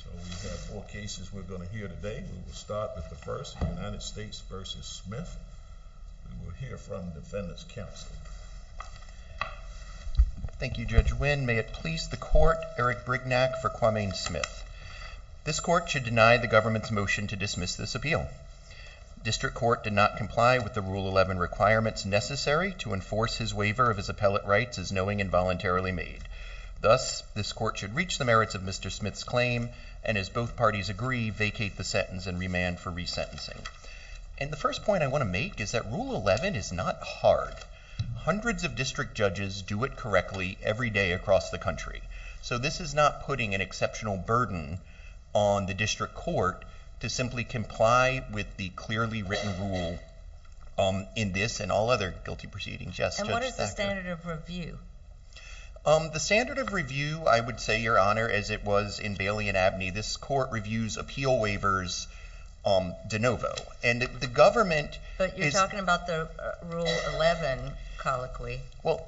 So we have four cases we're going to hear today. We will start with the first, United States v. Smith. We will hear from Defendant's Counsel. Thank you, Judge Wynn. May it please the Court, Eric Brignac for Quamaine Smith. This Court should deny the Government's motion to dismiss this appeal. District Court did not comply with the Rule 11 requirements necessary to enforce his waiver of his appellate rights as knowing and voluntarily made. Thus, this Court should reach the merits of Mr. Smith's claim and, as both parties agree, vacate the sentence and remand for resentencing. And the first point I want to make is that Rule 11 is not hard. Hundreds of district judges do it correctly every day across the country. So this is not putting an exceptional burden on the District Court to simply comply with the clearly written rule in this and all other guilty proceedings. And what is the standard of review? The standard of review, I would say, Your Honor, as it was in Bailey and Abney, this Court reviews appeal waivers de novo. But you're talking about the Rule 11 colloquy.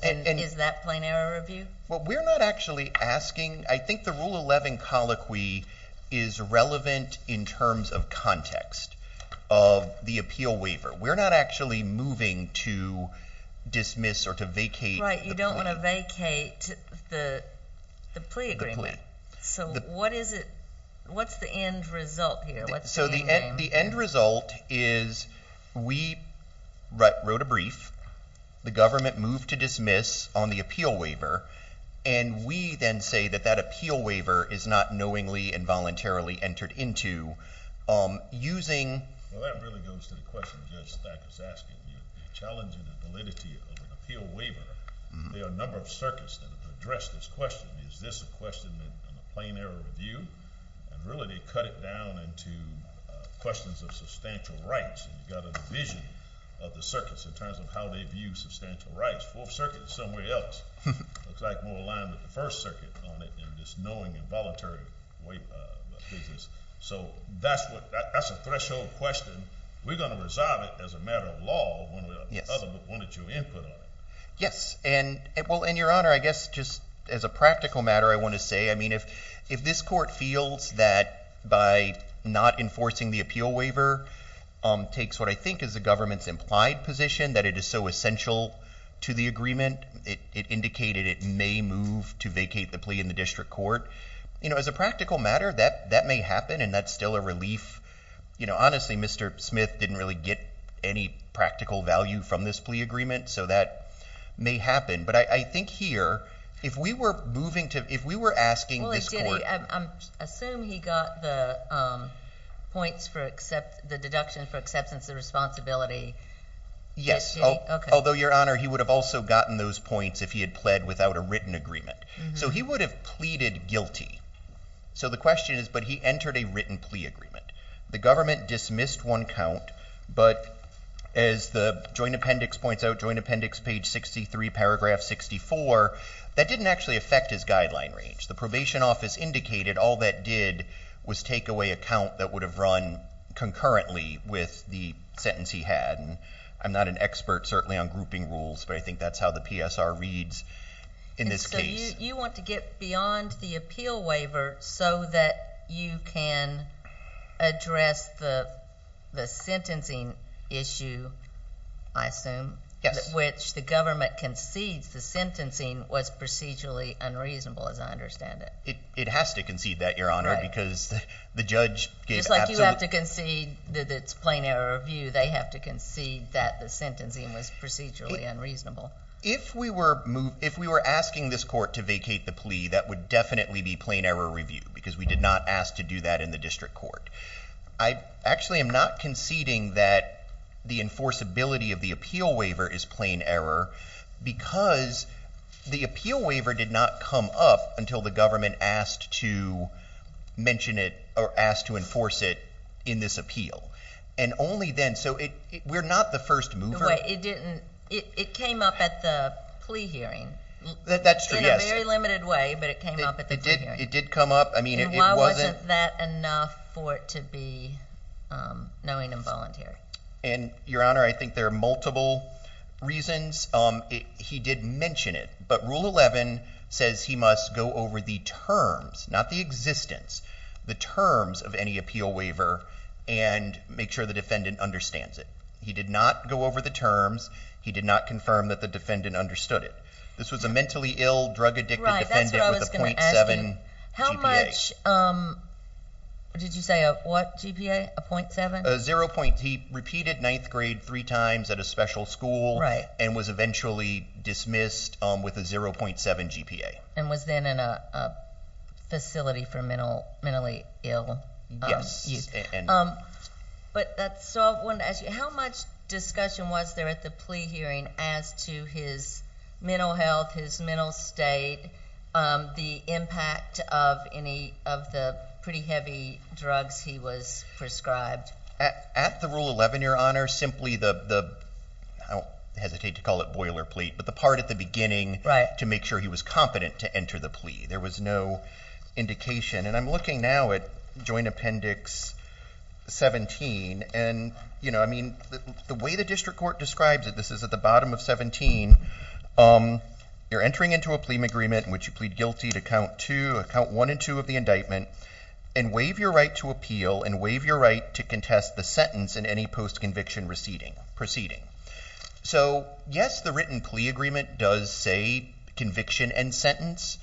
Is that plain error review? Well, we're not actually asking. I think the Rule 11 colloquy is relevant in terms of context of the appeal waiver. We're not actually moving to dismiss or to vacate. Right. You don't want to vacate the plea agreement. So what is it? What's the end result here? So the end result is we wrote a brief. The government moved to dismiss on the appeal waiver. And we then say that that appeal waiver is not knowingly and voluntarily entered into using... Well, that really goes to the question Judge Stack is asking. The challenging validity of an appeal waiver, there are a number of circuits that have addressed this question. Is this a question in a plain error review? And really, they cut it down into questions of substantial rights. You've got a division of the circuits in terms of how they view substantial rights. Fourth Circuit is somewhere else. It looks like more aligned with the First Circuit on it than just knowingly and voluntarily. So that's a threshold question. We're going to resolve it as a matter of law, one that you input on. Yes. And your Honor, I guess just as a practical matter, I want to say, if this court feels that by not enforcing the appeal waiver takes what I think is the government's implied position that it is so essential to the agreement, it indicated it may move to vacate the plea in the district court. As a practical matter, that may happen. And that's still a relief. Honestly, Mr. Smith didn't really get any practical value from this plea agreement. So that may happen. But I think here, if we were asking this court... I assume he got the deduction for acceptance of responsibility. Yes. Although, Your Honor, he would have also gotten those points if he had pled without a written agreement. So he would have pleaded guilty. So the question is, but he entered a written plea agreement. The government dismissed one count. But as the Joint Appendix points out, Joint Appendix page 63, paragraph 64, that didn't actually affect his guideline range. The probation office indicated all that did was take away a count that would have run concurrently with the sentence he had. And I'm not an expert, certainly, on grouping rules, but I think that's how the PSR reads in this case. But you want to get beyond the appeal waiver so that you can address the sentencing issue, I assume, which the government concedes the sentencing was procedurally unreasonable, as I understand it. It has to concede that, Your Honor, because the judge gave absolute... Just like you have to concede that it's plain error of view, they have to concede that the sentencing was procedurally unreasonable. If we were asking this court to vacate the plea, that would definitely be plain error review because we did not ask to do that in the district court. I actually am not conceding that the enforceability of the appeal waiver is plain error because the appeal waiver did not come up until the government asked to mention it or asked to enforce it in this appeal. And only then, so we're not the first mover. It came up at the plea hearing. That's true, yes. In a very limited way, but it came up at the plea hearing. It did come up. And why wasn't that enough for it to be knowing and voluntary? And, Your Honor, I think there are multiple reasons. He did mention it, but Rule 11 says he must go over the terms, not the existence, the terms of any appeal waiver and make sure the defendant understands it. He did not go over the terms. He did not confirm that the defendant understood it. This was a mentally ill, drug-addicted defendant with a .7 GPA. Right, that's what I was going to ask you. How much, did you say a what GPA? A .7? He repeated ninth grade three times at a special school and was eventually dismissed with a 0.7 GPA. And was then in a facility for mentally ill youth. Yes. But that's all I wanted to ask you. How much discussion was there at the plea hearing as to his mental health, his mental state, the impact of any of the pretty heavy drugs he was prescribed? At the Rule 11, Your Honor, simply the, I don't hesitate to call it boilerplate, but the part at the beginning to make sure he was competent to enter the plea. There was no indication. And I'm looking now at Joint Appendix 17. And, you know, I mean, the way the district court describes it, this is at the bottom of 17. You're entering into a plea agreement in which you plead guilty to count two, count one and two of the indictment and waive your right to appeal and waive your right to contest the sentence in any post-conviction proceeding. So, yes, the written plea agreement does say conviction and sentence.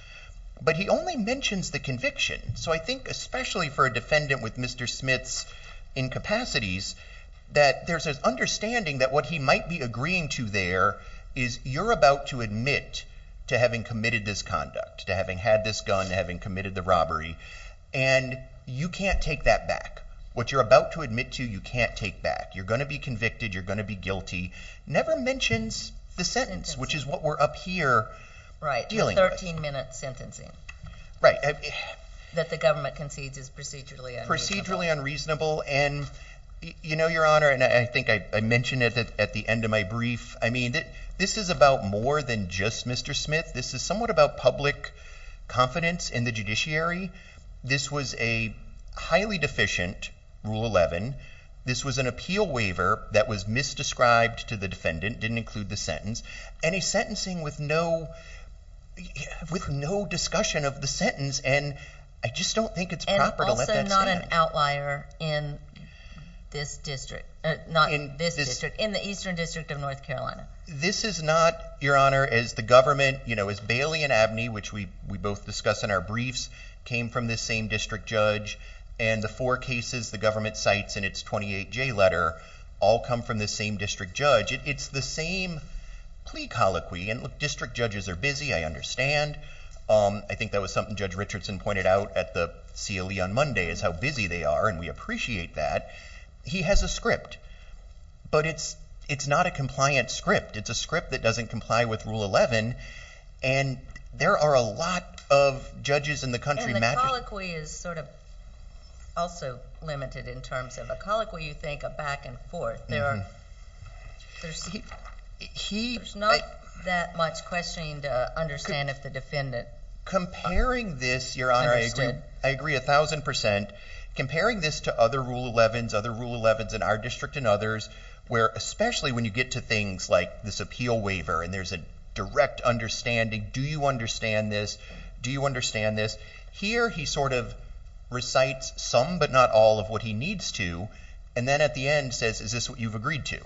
But he only mentions the conviction. So I think, especially for a defendant with Mr. Smith's incapacities, that there's this understanding that what he might be agreeing to there is you're about to admit to having committed this conduct, to having had this gun, to having committed the robbery. And you can't take that back. What you're about to admit to, you can't take back. You're going to be convicted. You're going to be guilty. Never mentions the sentence, which is what we're up here dealing with. 13-minute sentencing. Right. That the government concedes is procedurally unreasonable. Procedurally unreasonable. And, you know, Your Honor, and I think I mentioned it at the end of my brief, I mean, this is about more than just Mr. Smith. This is somewhat about public confidence in the judiciary. This was a highly deficient Rule 11. This was an appeal waiver that was misdescribed to the defendant, didn't include the sentence. And he's sentencing with no, with no discussion of the sentence. And I just don't think it's proper to let that stand. And also not an outlier in this district. Not in this district. In the Eastern District of North Carolina. This is not, Your Honor, as the government, you know, as Bailey and Abney, which we both discuss in our briefs, came from this same district judge. And the four cases the government cites in its 28-J letter all come from this same district judge. It's the same plea colloquy. And look, district judges are busy, I understand. I think that was something Judge Richardson pointed out at the CLE on Monday, is how busy they are. And we appreciate that. He has a script. But it's not a compliant script. It's a script that doesn't comply with Rule 11. And there are a lot of judges in the country... And the colloquy is sort of also limited in terms of a colloquy, you think, a back and forth. There are... There's not that much questioning to understand if the defendant understood. Comparing this, Your Honor, I agree a thousand percent. Comparing this to other Rule 11s, other Rule 11s in our district and others, where especially when you get to things like this appeal waiver and there's a direct understanding, do you understand this? Do you understand this? Here he sort of recites some but not all of what he needs to. And then at the end says, is this what you've agreed to?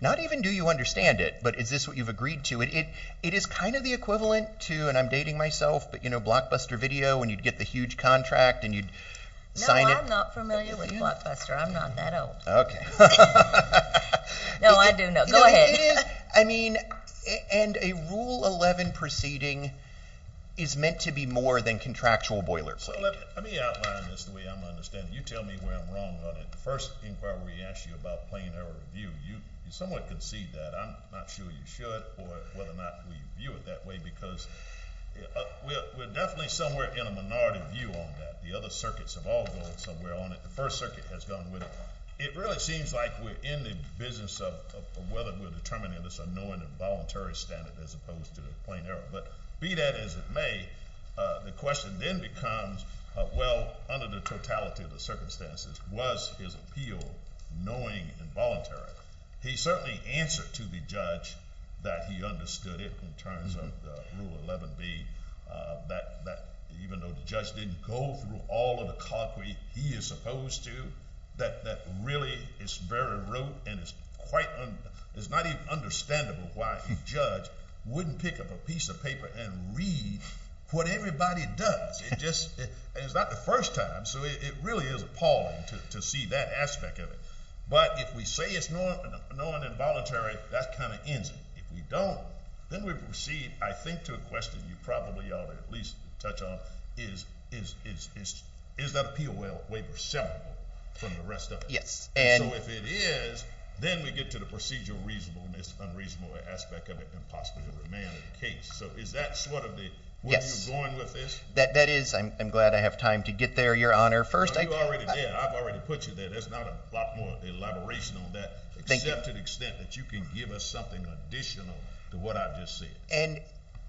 Not even do you understand it, but is this what you've agreed to? It is kind of the equivalent to, and I'm dating myself, but you know Blockbuster Video when you'd get the huge contract and you'd sign it. No, I'm not familiar with Blockbuster. I'm not that old. No, I do know. Go ahead. I mean, and a Rule 11 proceeding is meant to be more than contractual boilerplate. So let me outline this the way I'm understanding it. You tell me where I'm wrong on it. The first inquiry we asked you about plain error review, you somewhat concede that. I'm not sure you should or whether or not we view it that way because we're definitely somewhere in a minority view on that. The other circuits have all gone somewhere on it. The First Circuit has gone with it. It really seems like we're in the business of whether we're determining this annoying involuntary standard as opposed to the plain error. Well, under the totality of the circumstances was his appeal knowing involuntary. He certainly answered to the judge that he understood it in terms of the Rule 11B that even though the judge didn't go through all of the concrete he is supposed to, that really is very rote and it's quite, it's not even understandable why a judge wouldn't pick up a piece of paper and read what everybody does. It's not the first time, so it really is appalling to see that aspect of it. But if we say it's annoying involuntary, that kind of ends it. If we don't, then we proceed, I think to a question you probably ought to at least touch on, is that appeal waiver severable from the rest of it? So if it is, then we get to the procedural reasonableness, unreasonable aspect of it and possibly the remand of the case. So is that sort of the, where you're going with this? That is. I'm glad I have time to get there, Your Honor. You already did. I've already put you there. There's not a lot more elaboration on that except to the extent that you can give us something additional to what I just said. And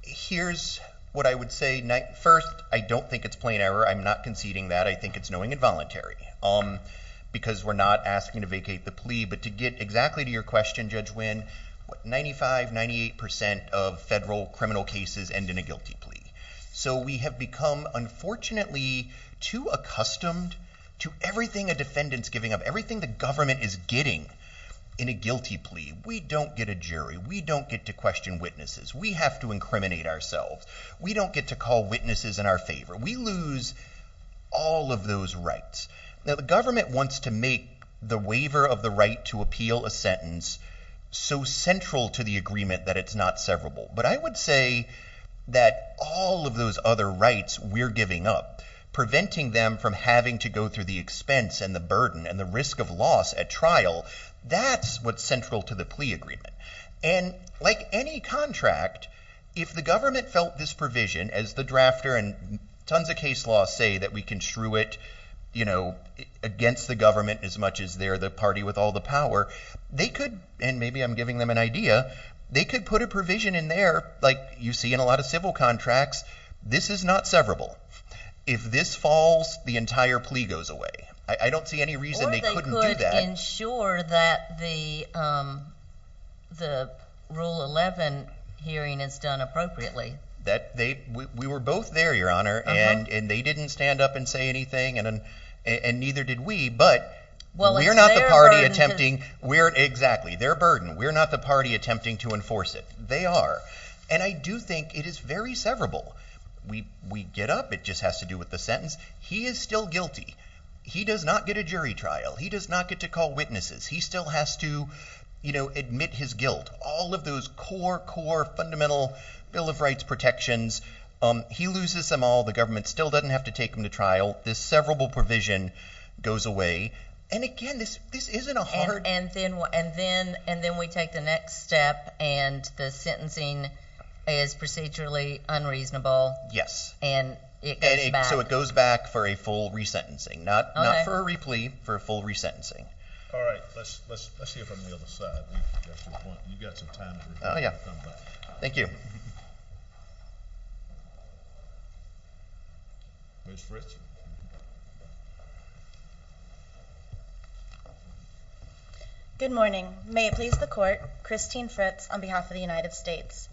here's what I would say. First, I don't think it's plain error. I'm not conceding that. I think it's knowing involuntary because we're not asking to vacate the plea, but to get exactly to your question, Judge Winn, 95, 98% of federal criminal cases end in a guilty plea. So we have become, unfortunately, too accustomed to everything a defendant's giving up, everything the government is getting in a guilty plea. We don't get a jury. We don't get to question witnesses. We have to incriminate ourselves. We don't get to call witnesses in our favor. We lose all of those rights. Now the government wants to make the waiver of the right to appeal a sentence so central to the agreement that it's not severable. But I would say that all of those other rights we're giving up, preventing them from having to go through the expense and the burden and the risk of loss at trial, that's what's central to the plea agreement. And like any contract, if the government felt this provision as the drafter and tons of case laws say that we can shrew it against the government as much as they're the party with all the power, they could, and maybe I'm giving them an idea, they could put a provision in there like you see in a lot of civil contracts, this is not severable. If this falls, the entire plea goes away. I don't see any reason they couldn't do that. Or they could ensure that the Rule 11 hearing is done appropriately. We were both there, Your Honor, and they didn't stand up and say anything and neither did we. But we're not the party attempting to enforce it. They are. And I do think it is very severable. We get up. It just has to do with the sentence. He is still guilty. He does not get a jury trial. He does not get to call witnesses. He still has to admit his guilt. All of those core, core, fundamental Bill of Rights protections, he loses them all. The government still doesn't have to take him to trial. This severable provision goes away. And again, this isn't a hard... And then we take the next step and the sentencing is procedurally unreasonable. And it goes back. So it goes back for a full resentencing. Not for a replea, for a full resentencing. All right. Let's hear from the other side. You've got some time. Thank you. Ms. Fritz? Good morning. May it please the court, Christine Fritz on behalf of the United States.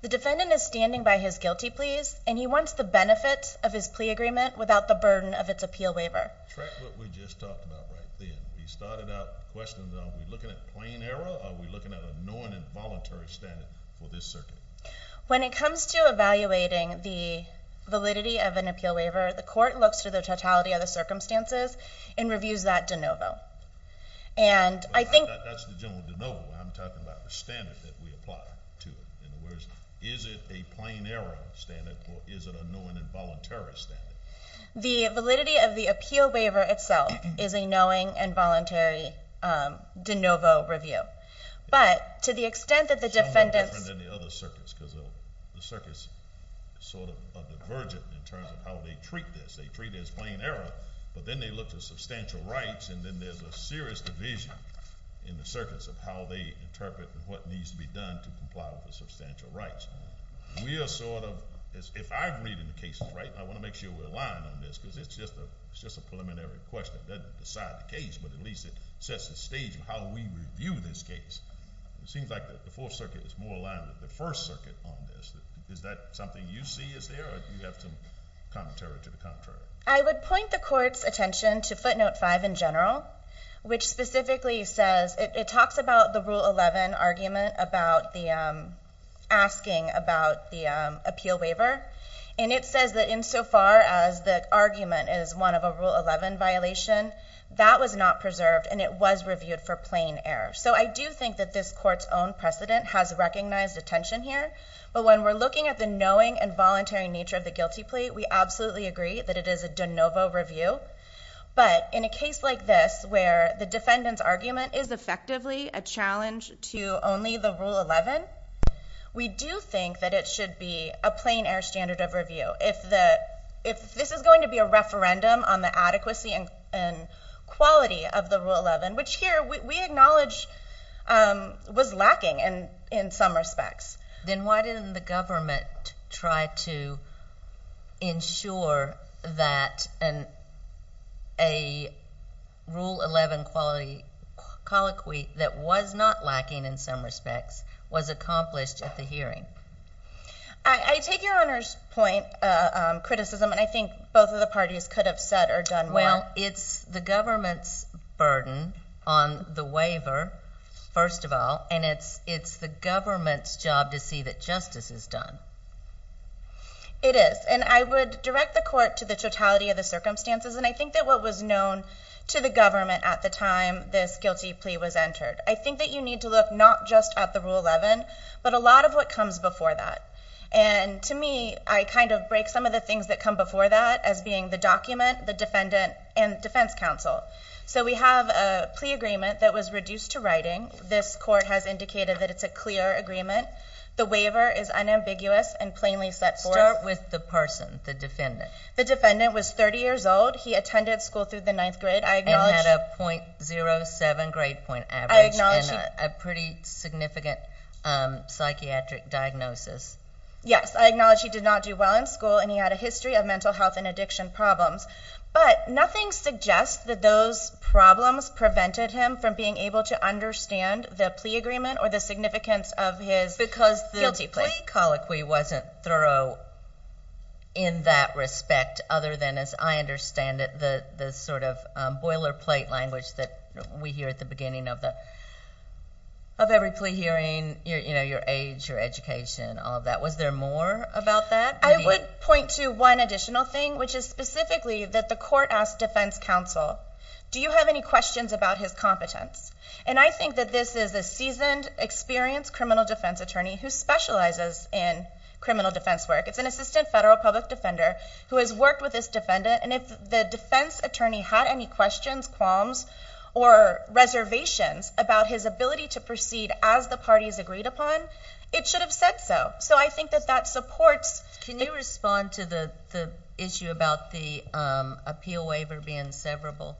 The defendant is standing by his guilty pleas and he wants the benefit of his plea agreement without the burden of its appeal waiver. Correct what we just talked about right then. We started out questioning, are we looking at plain error or are we looking at a knowing and voluntary standard for this circuit? When it comes to evaluating the validity of an appeal waiver, the court looks through the totality of the circumstances and reviews that de novo. That's the general de novo. I'm talking about the standard that we apply to it. In other words, is it a plain error standard or is it a knowing and voluntary standard? The validity of the appeal waiver itself is a knowing and voluntary de novo review. But to the extent that the defendant's... It's somewhat different than the other circuits because the circuits sort of divergent in terms of how they treat this. They treat it as plain error but then they look to substantial rights and then there's a serious division in the circuits of how they interpret and what needs to be done to comply with the substantial rights. We are sort of... If I'm reading the cases right, I want to make sure we're aligned on this because it's just a preliminary question that doesn't decide the case but at least it sets the stage of how we review this case. It seems like the Fourth Circuit is more aligned with the First Circuit on this. Is that something you see is there or do you have some commentary to the contrary? Yes, I do. This is a case in general which specifically says... It talks about the Rule 11 argument about the... Asking about the appeal waiver and it says that insofar as the argument is one of a Rule 11 violation, that was not preserved and it was reviewed for plain error. I do think that this court's own precedent has recognized a tension here but when we're looking at the knowing and voluntary nature of the guilty plea, we absolutely agree that it is a de novo review but in a case like this where the defendant's argument is effectively a challenge to only the Rule 11, we do think that it should be a plain error standard of review. If this is going to be a referendum on the adequacy and quality of the Rule 11, which here we acknowledge was lacking in some respects. Then why didn't the government try to ensure that a Rule 11 quality colloquy that was not lacking in some respects was accomplished at the hearing? I take your Honor's point, criticism, and I think both of the parties could have said or done more. Well, it's the government's burden on the waiver first of all and it's the government's job to see that justice is done. It is. And I would direct the court to the totality of the circumstances and I think that what was known to the government at the time this guilty plea was entered, I think that you need to look not just at the Rule 11 but a lot of what comes before that. And to me, I kind of break some of the things that come before that as being the document, the defendant, and defense counsel. So we have a plea agreement that was reduced to writing. And plainly set forth. Start with the person, the defendant. The defendant was 30 years old. He attended school through the 9th grade. And had a .07 grade point average and a pretty significant psychiatric diagnosis. Yes, I acknowledge he did not do well in school and he had a history of mental health and addiction problems. But nothing suggests that those problems prevented him from being able to understand the plea agreement or the significance of his guilty plea. The plea colloquy wasn't thorough in that respect other than, as I understand it, the sort of boilerplate language that we hear at the beginning of every plea hearing. Your age, your education, all of that. Was there more about that? I would point to one additional thing which is specifically that the court asked defense counsel do you have any questions about his competence? And I think that this is a seasoned, experienced criminal defense attorney who specializes in criminal defense work. It's an assistant federal public defender who has worked with this defendant. And if the defense attorney had any questions, qualms, or reservations about his ability to proceed as the parties agreed upon, it should have said so. So I think that that supports. Can you respond to the issue about the appeal waiver being severable?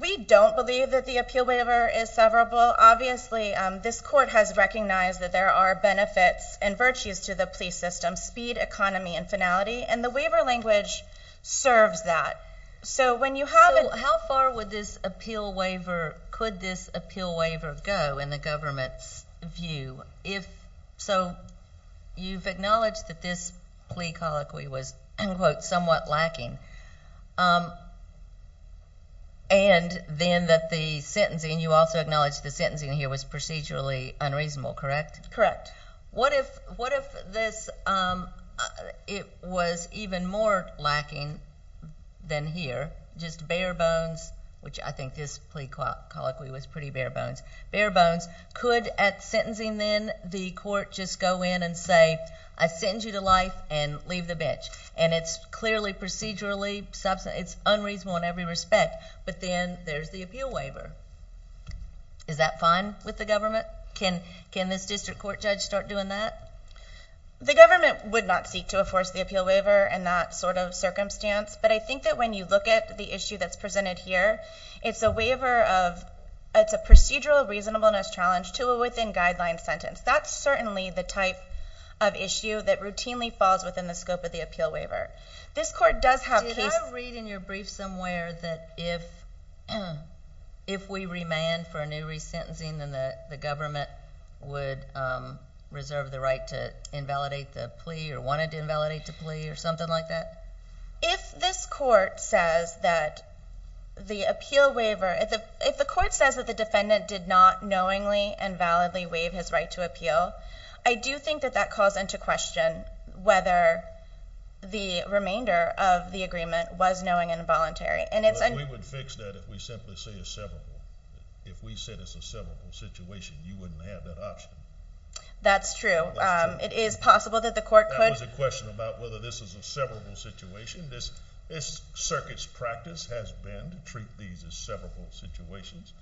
We don't believe that the appeal waiver is severable. Obviously, this court has recognized that there are benefits and virtues to the plea system, speed, economy, and finality. And the waiver language serves that. So when you have it... So how far would this appeal waiver, could this appeal waiver go in the government's view? So you've acknowledged that this plea colloquy was, quote, somewhat lacking. And then that the sentencing, you also acknowledged the sentencing here was procedurally unreasonable, correct? What if this, it was even more lacking than here, just bare bones, which I think this plea colloquy was pretty bare bones, could at sentencing then the court just go in and say, I sentence you to life and leave the bench. And it's clearly procedurally, it's unreasonable in every respect. But then there's the appeal waiver. Is that fine with the government? Can this district court judge start doing that? The government would not seek to enforce the appeal waiver in that sort of circumstance. But I think that when you look at the issue that's presented here, it's a procedural reasonableness challenge to a within-guideline sentence. That's certainly the type of issue that routinely falls within the scope of the appeal waiver. This court does have cases... Did I read in your brief somewhere that if we remand for a new resentencing, then the government would reserve the right to invalidate the plea or wanted to invalidate the plea or something like that? If this court says that the appeal waiver, if the court says that the defendant did not knowingly and validly waive his right to appeal, I do think that that calls into question whether the remainder of the agreement was knowing and voluntary. We would fix that if we simply say a severable. If we said it's a severable situation, you wouldn't have that option. That's true. It is possible that the court could... That was a question about whether this is a severable situation. This circuit's practice has been to treat these as severable situations.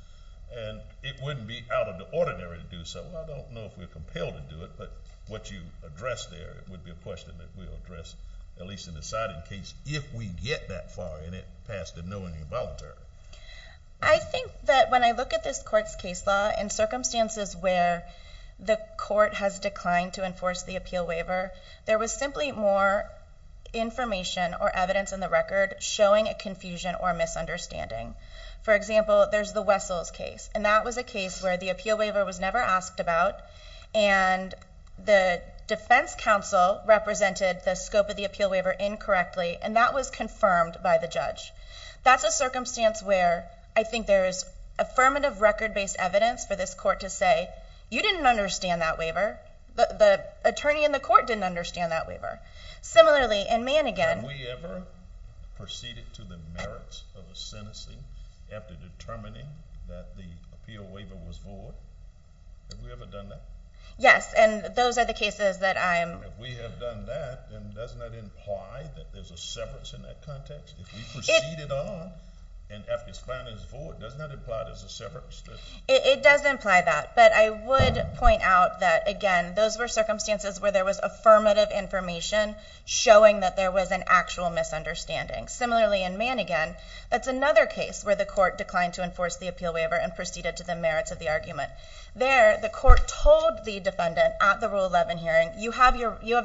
And it wouldn't be out of the ordinary to do so. I don't know if we're compelled to do it, but what you addressed there would be a question that we'll address at least in the siding case if we get that far in it past the knowingly and voluntary. I think that when I look at this court's case law in circumstances where the court has declined to enforce the appeal waiver, there was simply more information or evidence in the record showing a confusion or misunderstanding. For example, there's the Wessels case. And that was a case where the appeal waiver was never asked about. And the defense counsel represented the scope of the appeal waiver incorrectly. And that was confirmed by the judge. That's a circumstance where I think there's affirmative record-based evidence for this court to say, you didn't understand that waiver. The attorney in the court didn't understand that waiver. Similarly, in Mannigan... Have we ever proceeded to the merits of a sentencing after determining that the appeal waiver was void? Have we ever done that? Yes, and those are the cases that I'm... If we have done that, then doesn't that imply that there's a severance in that context? If we proceeded on and after it's found it's void, doesn't that imply there's a severance? It does imply that. But I would point out that, again, those were circumstances where there was affirmative information showing that there was an actual misunderstanding. Similarly, in Mannigan, that's another case where the court declined to enforce the appeal waiver and proceeded to the merits of the argument. There, the court told the defendant you have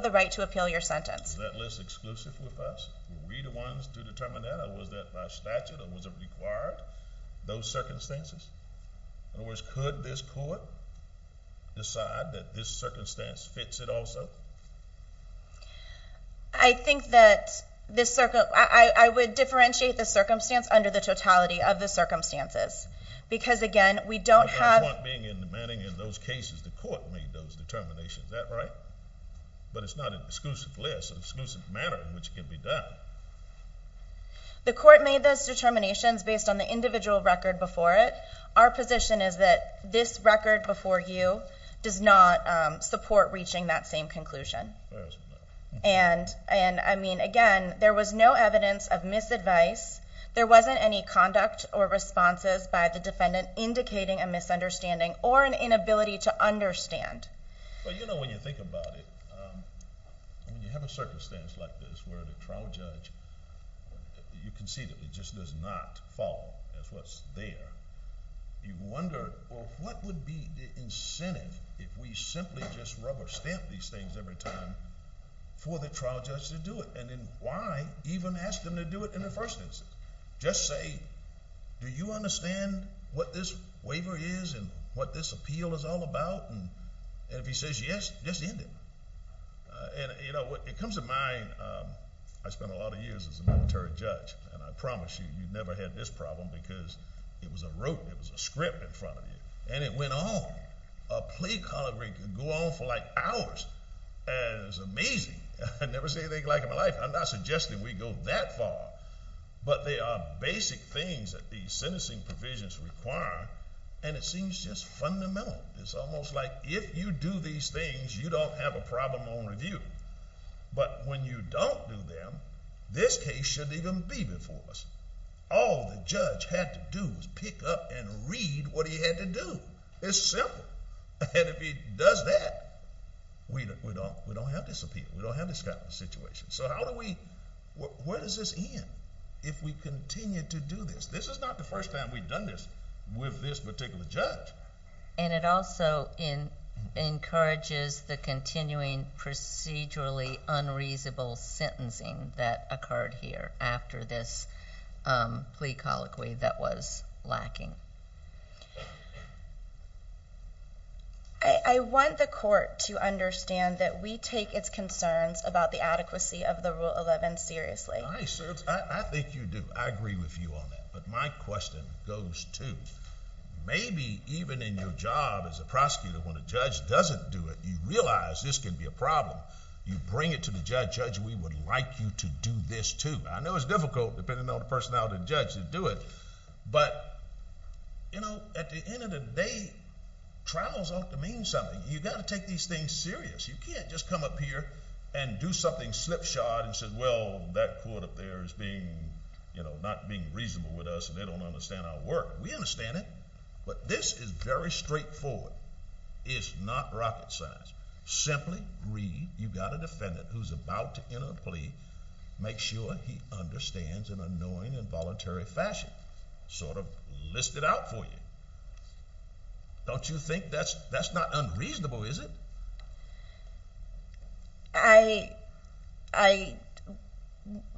the right to appeal your sentence. Is that less exclusive with us? Were we the ones to determine that, or was that by statute, or was it required, those circumstances? In other words, could this court decide that this circumstance fits it also? I think that this... I would differentiate the circumstance under the totality of the circumstances, because, again, we don't have... My point being in Mannigan, in those cases, the court made those determinations. Is that right? But it's not an exclusive list, an exclusive matter in which it can be done. The court made those determinations based on the individual record before it. Our position is that this record before you does not support reaching that same conclusion. And, I mean, again, there was no evidence of misadvice. There wasn't any conduct or responses by the defendant indicating a misunderstanding or an inability to understand. Well, you know, when you think about it, when you have a circumstance like this where the trial judge, you can see that it just does not fall. That's what's there. You wonder, well, what would be the incentive if we simply just rubber-stamp these things every time for the trial judge to do it? And then why even ask them to do it in the first instance? Just say, do you understand what this waiver is and what this appeal is all about? And if he says yes, just end it. And, you know, it comes to mind, I spent a lot of years as a military judge, and I promise you, you've never had this problem because it was a rope, it was a script in front of you. And it went on. A plea colloquy could go on for, like, hours. And it was amazing. I've never seen anything like it in my life. I'm not suggesting we go that far. But they are basic things that these sentencing provisions require, and it seems just fundamental. It's almost like if you do these things, you don't have a problem on review. But when you don't do them, this case shouldn't even be before us. All the judge had to do was pick up and read what he had to do. It's simple. And if he does that, we don't have this appeal. We don't have this kind of situation. So how do we, where does this end if we continue to do this? This is not the first time we've done this with this particular judge. But it also encourages the continuing procedurally unreasonable sentencing that occurred here after this plea colloquy that was lacking. I want the court to understand that we take its concerns about the adequacy of the Rule 11 seriously. I think you do. I agree with you on that. But my question goes to, maybe even in your job as a prosecutor when a judge doesn't do it, you realize this can be a problem. You bring it to the judge. Judge, we would like you to do this too. I know it's difficult, depending on the personality of the judge, to do it, but at the end of the day, trials ought to mean something. You've got to take these things serious. You can't just come up here and do something slipshod and say, well, that court up there is not being reasonable with us and they don't understand our work. We understand it. But this is very straightforward. It's not rocket science. Simply read, you've got a defendant who's about to enter a plea. Make sure he understands in a knowing and voluntary fashion. Sort of list it out for you. Don't you think that's not unreasonable, is it? I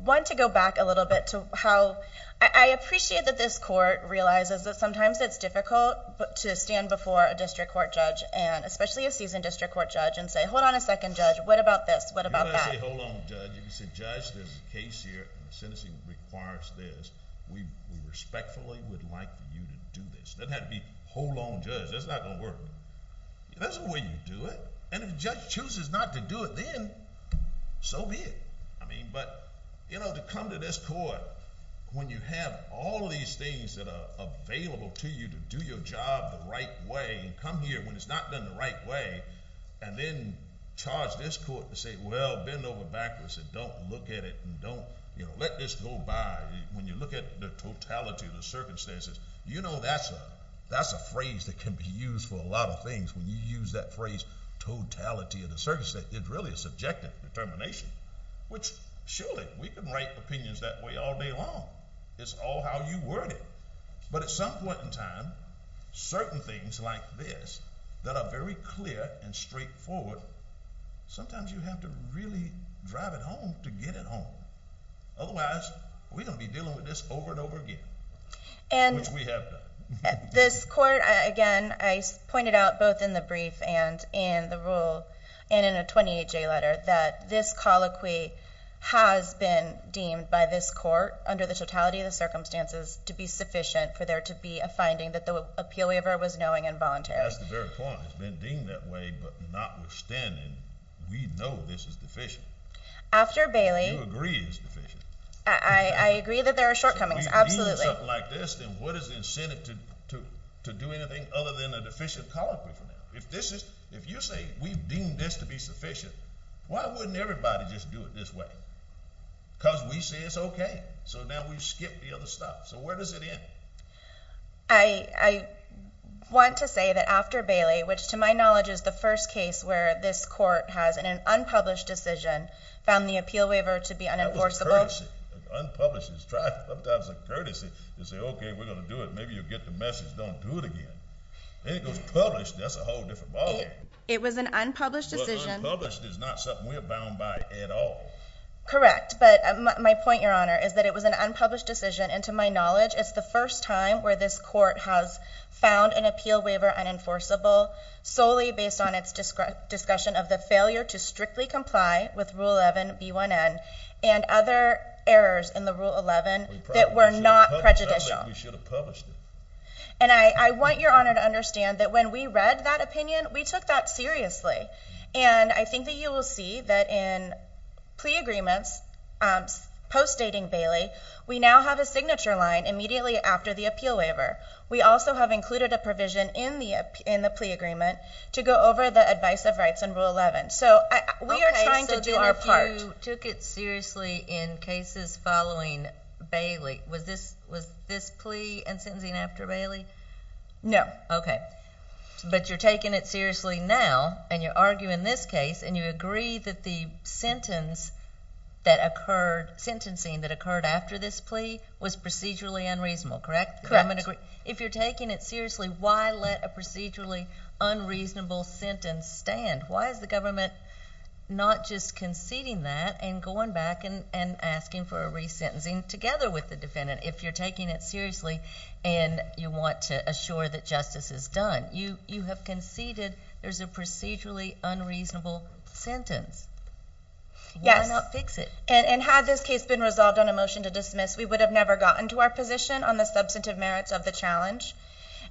want to go back a little bit to how... I appreciate that this court realizes that sometimes it's difficult to stand before a district court judge, especially a seasoned district court judge, and say, hold on a second, judge, what about this, what about that? You don't have to say, hold on, judge. You can say, judge, there's a case here, the sentencing requires this. We respectfully would like you to do this. It doesn't have to be, hold on, judge, that's not going to work. That's the way you do it. And if the judge chooses not to do it, then so be it. But when you have all these things that are available to you to do your job the right way and come here when it's not done the right way and then charge this court to say, well, bend over backwards and don't look at it and don't let this go by. When you look at the totality of the circumstances, you know that's a phrase that can be used for a lot of things. When you use that phrase, totality of the circumstances, it really is subjective determination, which surely we can write opinions that way all day long. It's all how you word it. But at some point in time, certain things like this that are very clear and straightforward, sometimes you have to really drive it home to get it home. Otherwise, we're going to be dealing with this over and over again, which we have done. This court, again, I pointed out both in the brief and in the rule and in a 28-J letter that this colloquy has been deemed by this court under the totality of the circumstances to be sufficient for there to be a finding that the appeal waiver was knowing and voluntary. That's the very point. It's been deemed that way, but not withstanding, we know this is deficient. You agree it's deficient? I agree that there are shortcomings. Absolutely. If we deem something like this, then what is the incentive to do anything other than a deficient colloquy? If you say we've deemed this to be sufficient, why wouldn't everybody just do it this way? Because we say it's okay. Now we've skipped the other stuff. Where does it end? I want to say that after Bailey, which to my knowledge is the first case where this court has, in an unpublished decision, found the appeal waiver to be unenforceable. That was courtesy. Unpublished is sometimes a courtesy to say, okay, we're going to do it. Maybe you'll get the message, don't do it again. Unpublished is not something we're bound by at all. Correct, but my point, Your Honor, is that it was an unpublished decision, and to my knowledge, it's the first time where this court has found an appeal waiver unenforceable solely based on its discussion of the failure to strictly comply with Rule 11, B1N, and other errors in the Rule 11 that were not prejudicial. We should have published it. I want Your Honor to understand that when we read that opinion, we took that seriously, and I think that you will see that in plea agreements post-dating Bailey, we now have a signature line immediately after the appeal waiver. We also have included a provision in the plea agreement to go over the advice of rights in Rule 11. We are trying to do our part. Okay, so then if you took it seriously in cases following Bailey, was this plea and sentencing after Bailey? No. Okay. But you're taking it seriously now, and you're arguing this case, and you agree that the sentencing that occurred after this plea was procedurally unreasonable, correct? Correct. If you're taking it seriously, why let a procedurally unreasonable sentence stand? Why is the government not just conceding that and going back and asking for a resentencing together with the defendant if you're taking it seriously and you want to assure that justice is done? You have conceded there's a procedurally unreasonable sentence. Why not fix it? Yes, and had this case been resolved on a motion to dismiss, we would have never gotten to our position on the substantive merits of the challenge,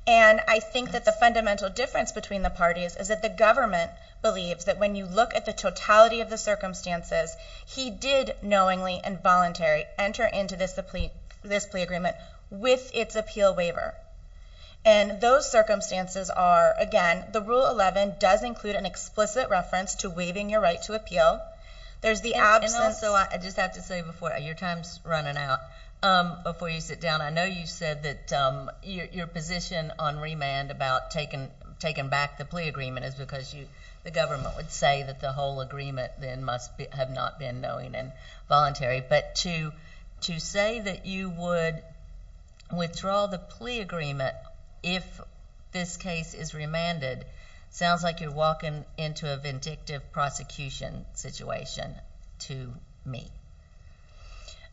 and I think that the fundamental difference between the parties is that the government believes that when you look at the totality of the circumstances, he did knowingly and voluntarily make its appeal waiver. And those circumstances are, again, the Rule 11 does include an explicit reference to waiving your right to appeal. There's the absence... And also, I just have to say before, your time's running out. Before you sit down, I know you said that your position on remand about taking back the plea agreement is because the government would say that the whole agreement then must have not been knowing and voluntary. But to say that you would, again, withdraw the plea agreement if this case is remanded sounds like you're walking into a vindictive prosecution situation to me.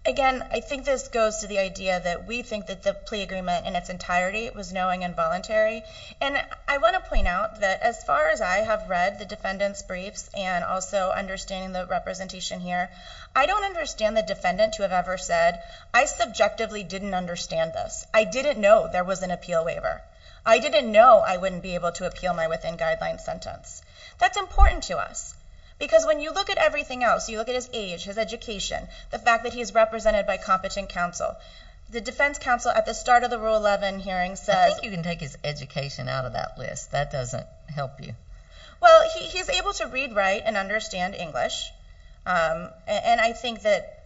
Again, I think this goes to the idea that we think that the plea agreement in its entirety was knowing and voluntary. And I want to point out that as far as I have read the defendant's briefs and also understanding the representation here, I don't understand the defendant to have ever said, I subjectively didn't understand this. I didn't know there was an appeal waiver. I didn't know I wouldn't be able to appeal my within-guideline sentence. That's important to us. Because when you look at everything else, you look at his age, his education, the fact that he's represented by competent counsel, the defense counsel at the start of the Rule 11 hearing says... I think you can take his education out of that list. That doesn't help you. Well, he's able to read, write, and understand English. And I think that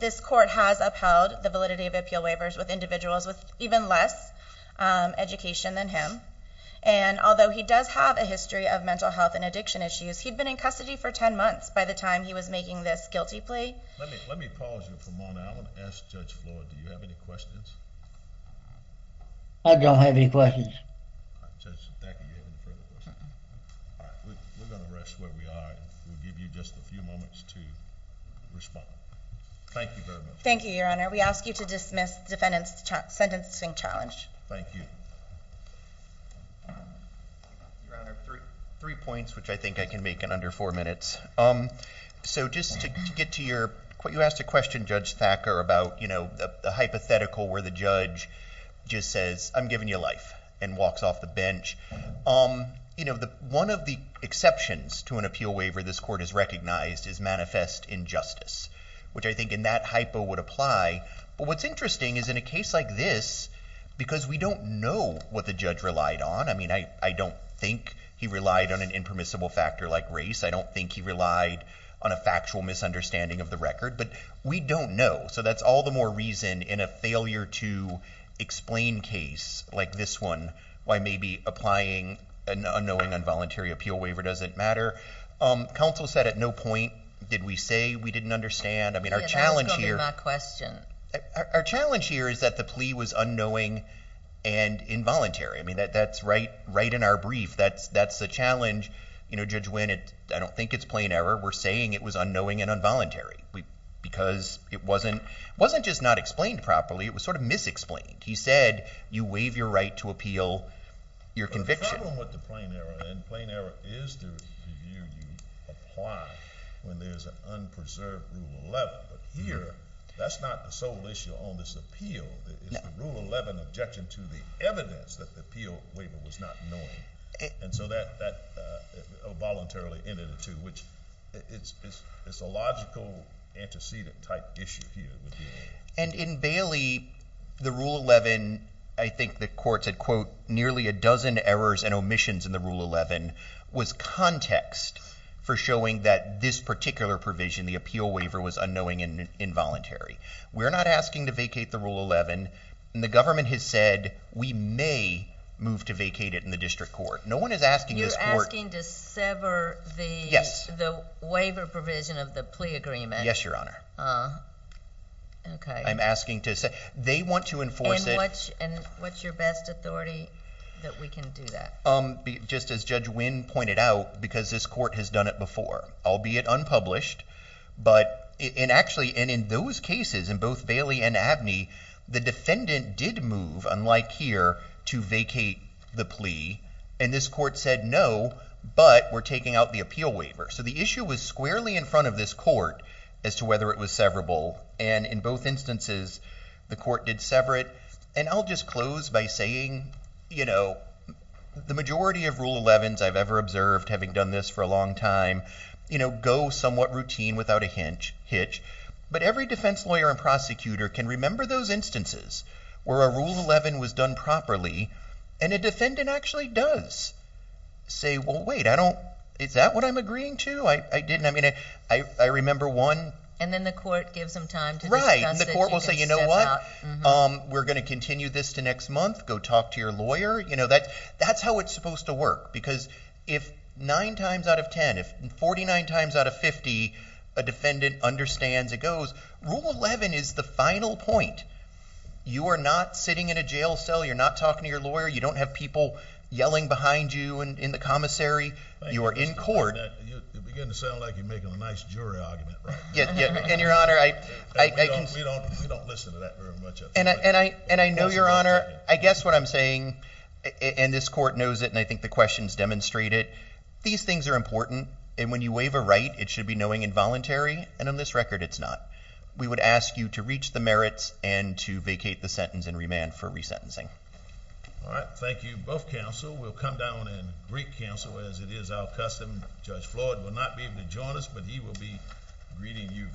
this court has upheld the validity of appeal waivers with individuals with even less education than him. And although he does have a history of mental health and addiction issues, he'd been in custody for 10 months by the time he was making this guilty plea. Let me pause you for a moment. I want to ask Judge Floyd, do you have any questions? I don't have any questions. Judge, thank you. We're going to rest where we are and we'll give you just a few minutes to respond. Thank you very much. Thank you, Your Honor. We ask you to dismiss the sentencing challenge. Thank you. Your Honor, three points, which I think I can make in under four minutes. So just to get to your... You asked a question, Judge Thacker, about the hypothetical where the judge just says, I'm giving you life, and walks off the bench. One of the exceptions to an appeal waiver this court has recognized is manifest injustice, which I think in that hypo would apply. But what's interesting is in a case like this, because we don't know what the judge relied on. I mean, I don't think he relied on an impermissible factor like race. I don't think he relied on a factual misunderstanding of the record, but we don't know. So that's all the more reason in a failure to explain case like this one, why maybe applying an unknowing involuntary appeal waiver doesn't matter. Did we say we didn't understand? I mean, our challenge here... Our challenge here is that the plea was unknowing and involuntary. I mean, that's right in our brief. That's the challenge. You know, Judge Winn, I don't think it's plain error. We're saying it was unknowing and involuntary because it wasn't just not explained properly. It was sort of misexplained. He said you waive your right to appeal your conviction. The problem with the plain error, and plain error is the view you apply when there's an unpreserved Rule 11. But here, that's not the sole issue on this appeal. It's the Rule 11 objection to the evidence that the appeal waiver was not knowing. And so that voluntarily ended it too, which it's a logical, antecedent-type issue here. And in Bailey, the Rule 11, I think the court said, quote, nearly a dozen errors and omissions in the Rule 11 was context for showing that this particular provision, the appeal waiver, was unknowing and involuntary. We're not asking to vacate the Rule 11. And the government has said we may move to vacate it in the district court. No one is asking this court. You're asking to sever the waiver provision of the plea agreement. Yes, Your Honor. I'm asking to sever. They want to enforce it. Is there a way that we can do that? Just as Judge Wynn pointed out, because this court has done it before, albeit unpublished, and actually in those cases, in both Bailey and Abney, the defendant did move, unlike here, to vacate the plea. And this court said no, but we're taking out the appeal waiver. So the issue was squarely in front of this court as to whether it was severable. And in both instances, the court did sever it. And, you know, the majority of Rule 11s I've ever observed, having done this for a long time, you know, go somewhat routine without a hitch. But every defense lawyer and prosecutor can remember those instances where a Rule 11 was done properly and a defendant actually does say, well, wait, I don't, is that what I'm agreeing to? I didn't, I mean, I remember one. And then the court gives them time to discuss it. Right, and the court will say, you know what, we're going to continue this to next month. Go talk to your lawyer. You know, that's how it's supposed to work. Because if nine times out of 10, if 49 times out of 50, a defendant understands it goes, Rule 11 is the final point. You are not sitting in a jail cell. You're not talking to your lawyer. You don't have people yelling behind you in the commissary. You are in court. You begin to sound like you're making a nice jury argument. Yeah, and Your Honor, I, We don't listen to that very much. And I know, Your Honor, I guess what I'm saying, and this court knows it, and I think the questions demonstrate it. These things are important. And when you waive a right, it should be knowing involuntary. And on this record, it's not. We would ask you to reach the merits and to vacate the sentence and remand for resentencing. All right, thank you. Both counsel will come down and I will be greeting you virtually.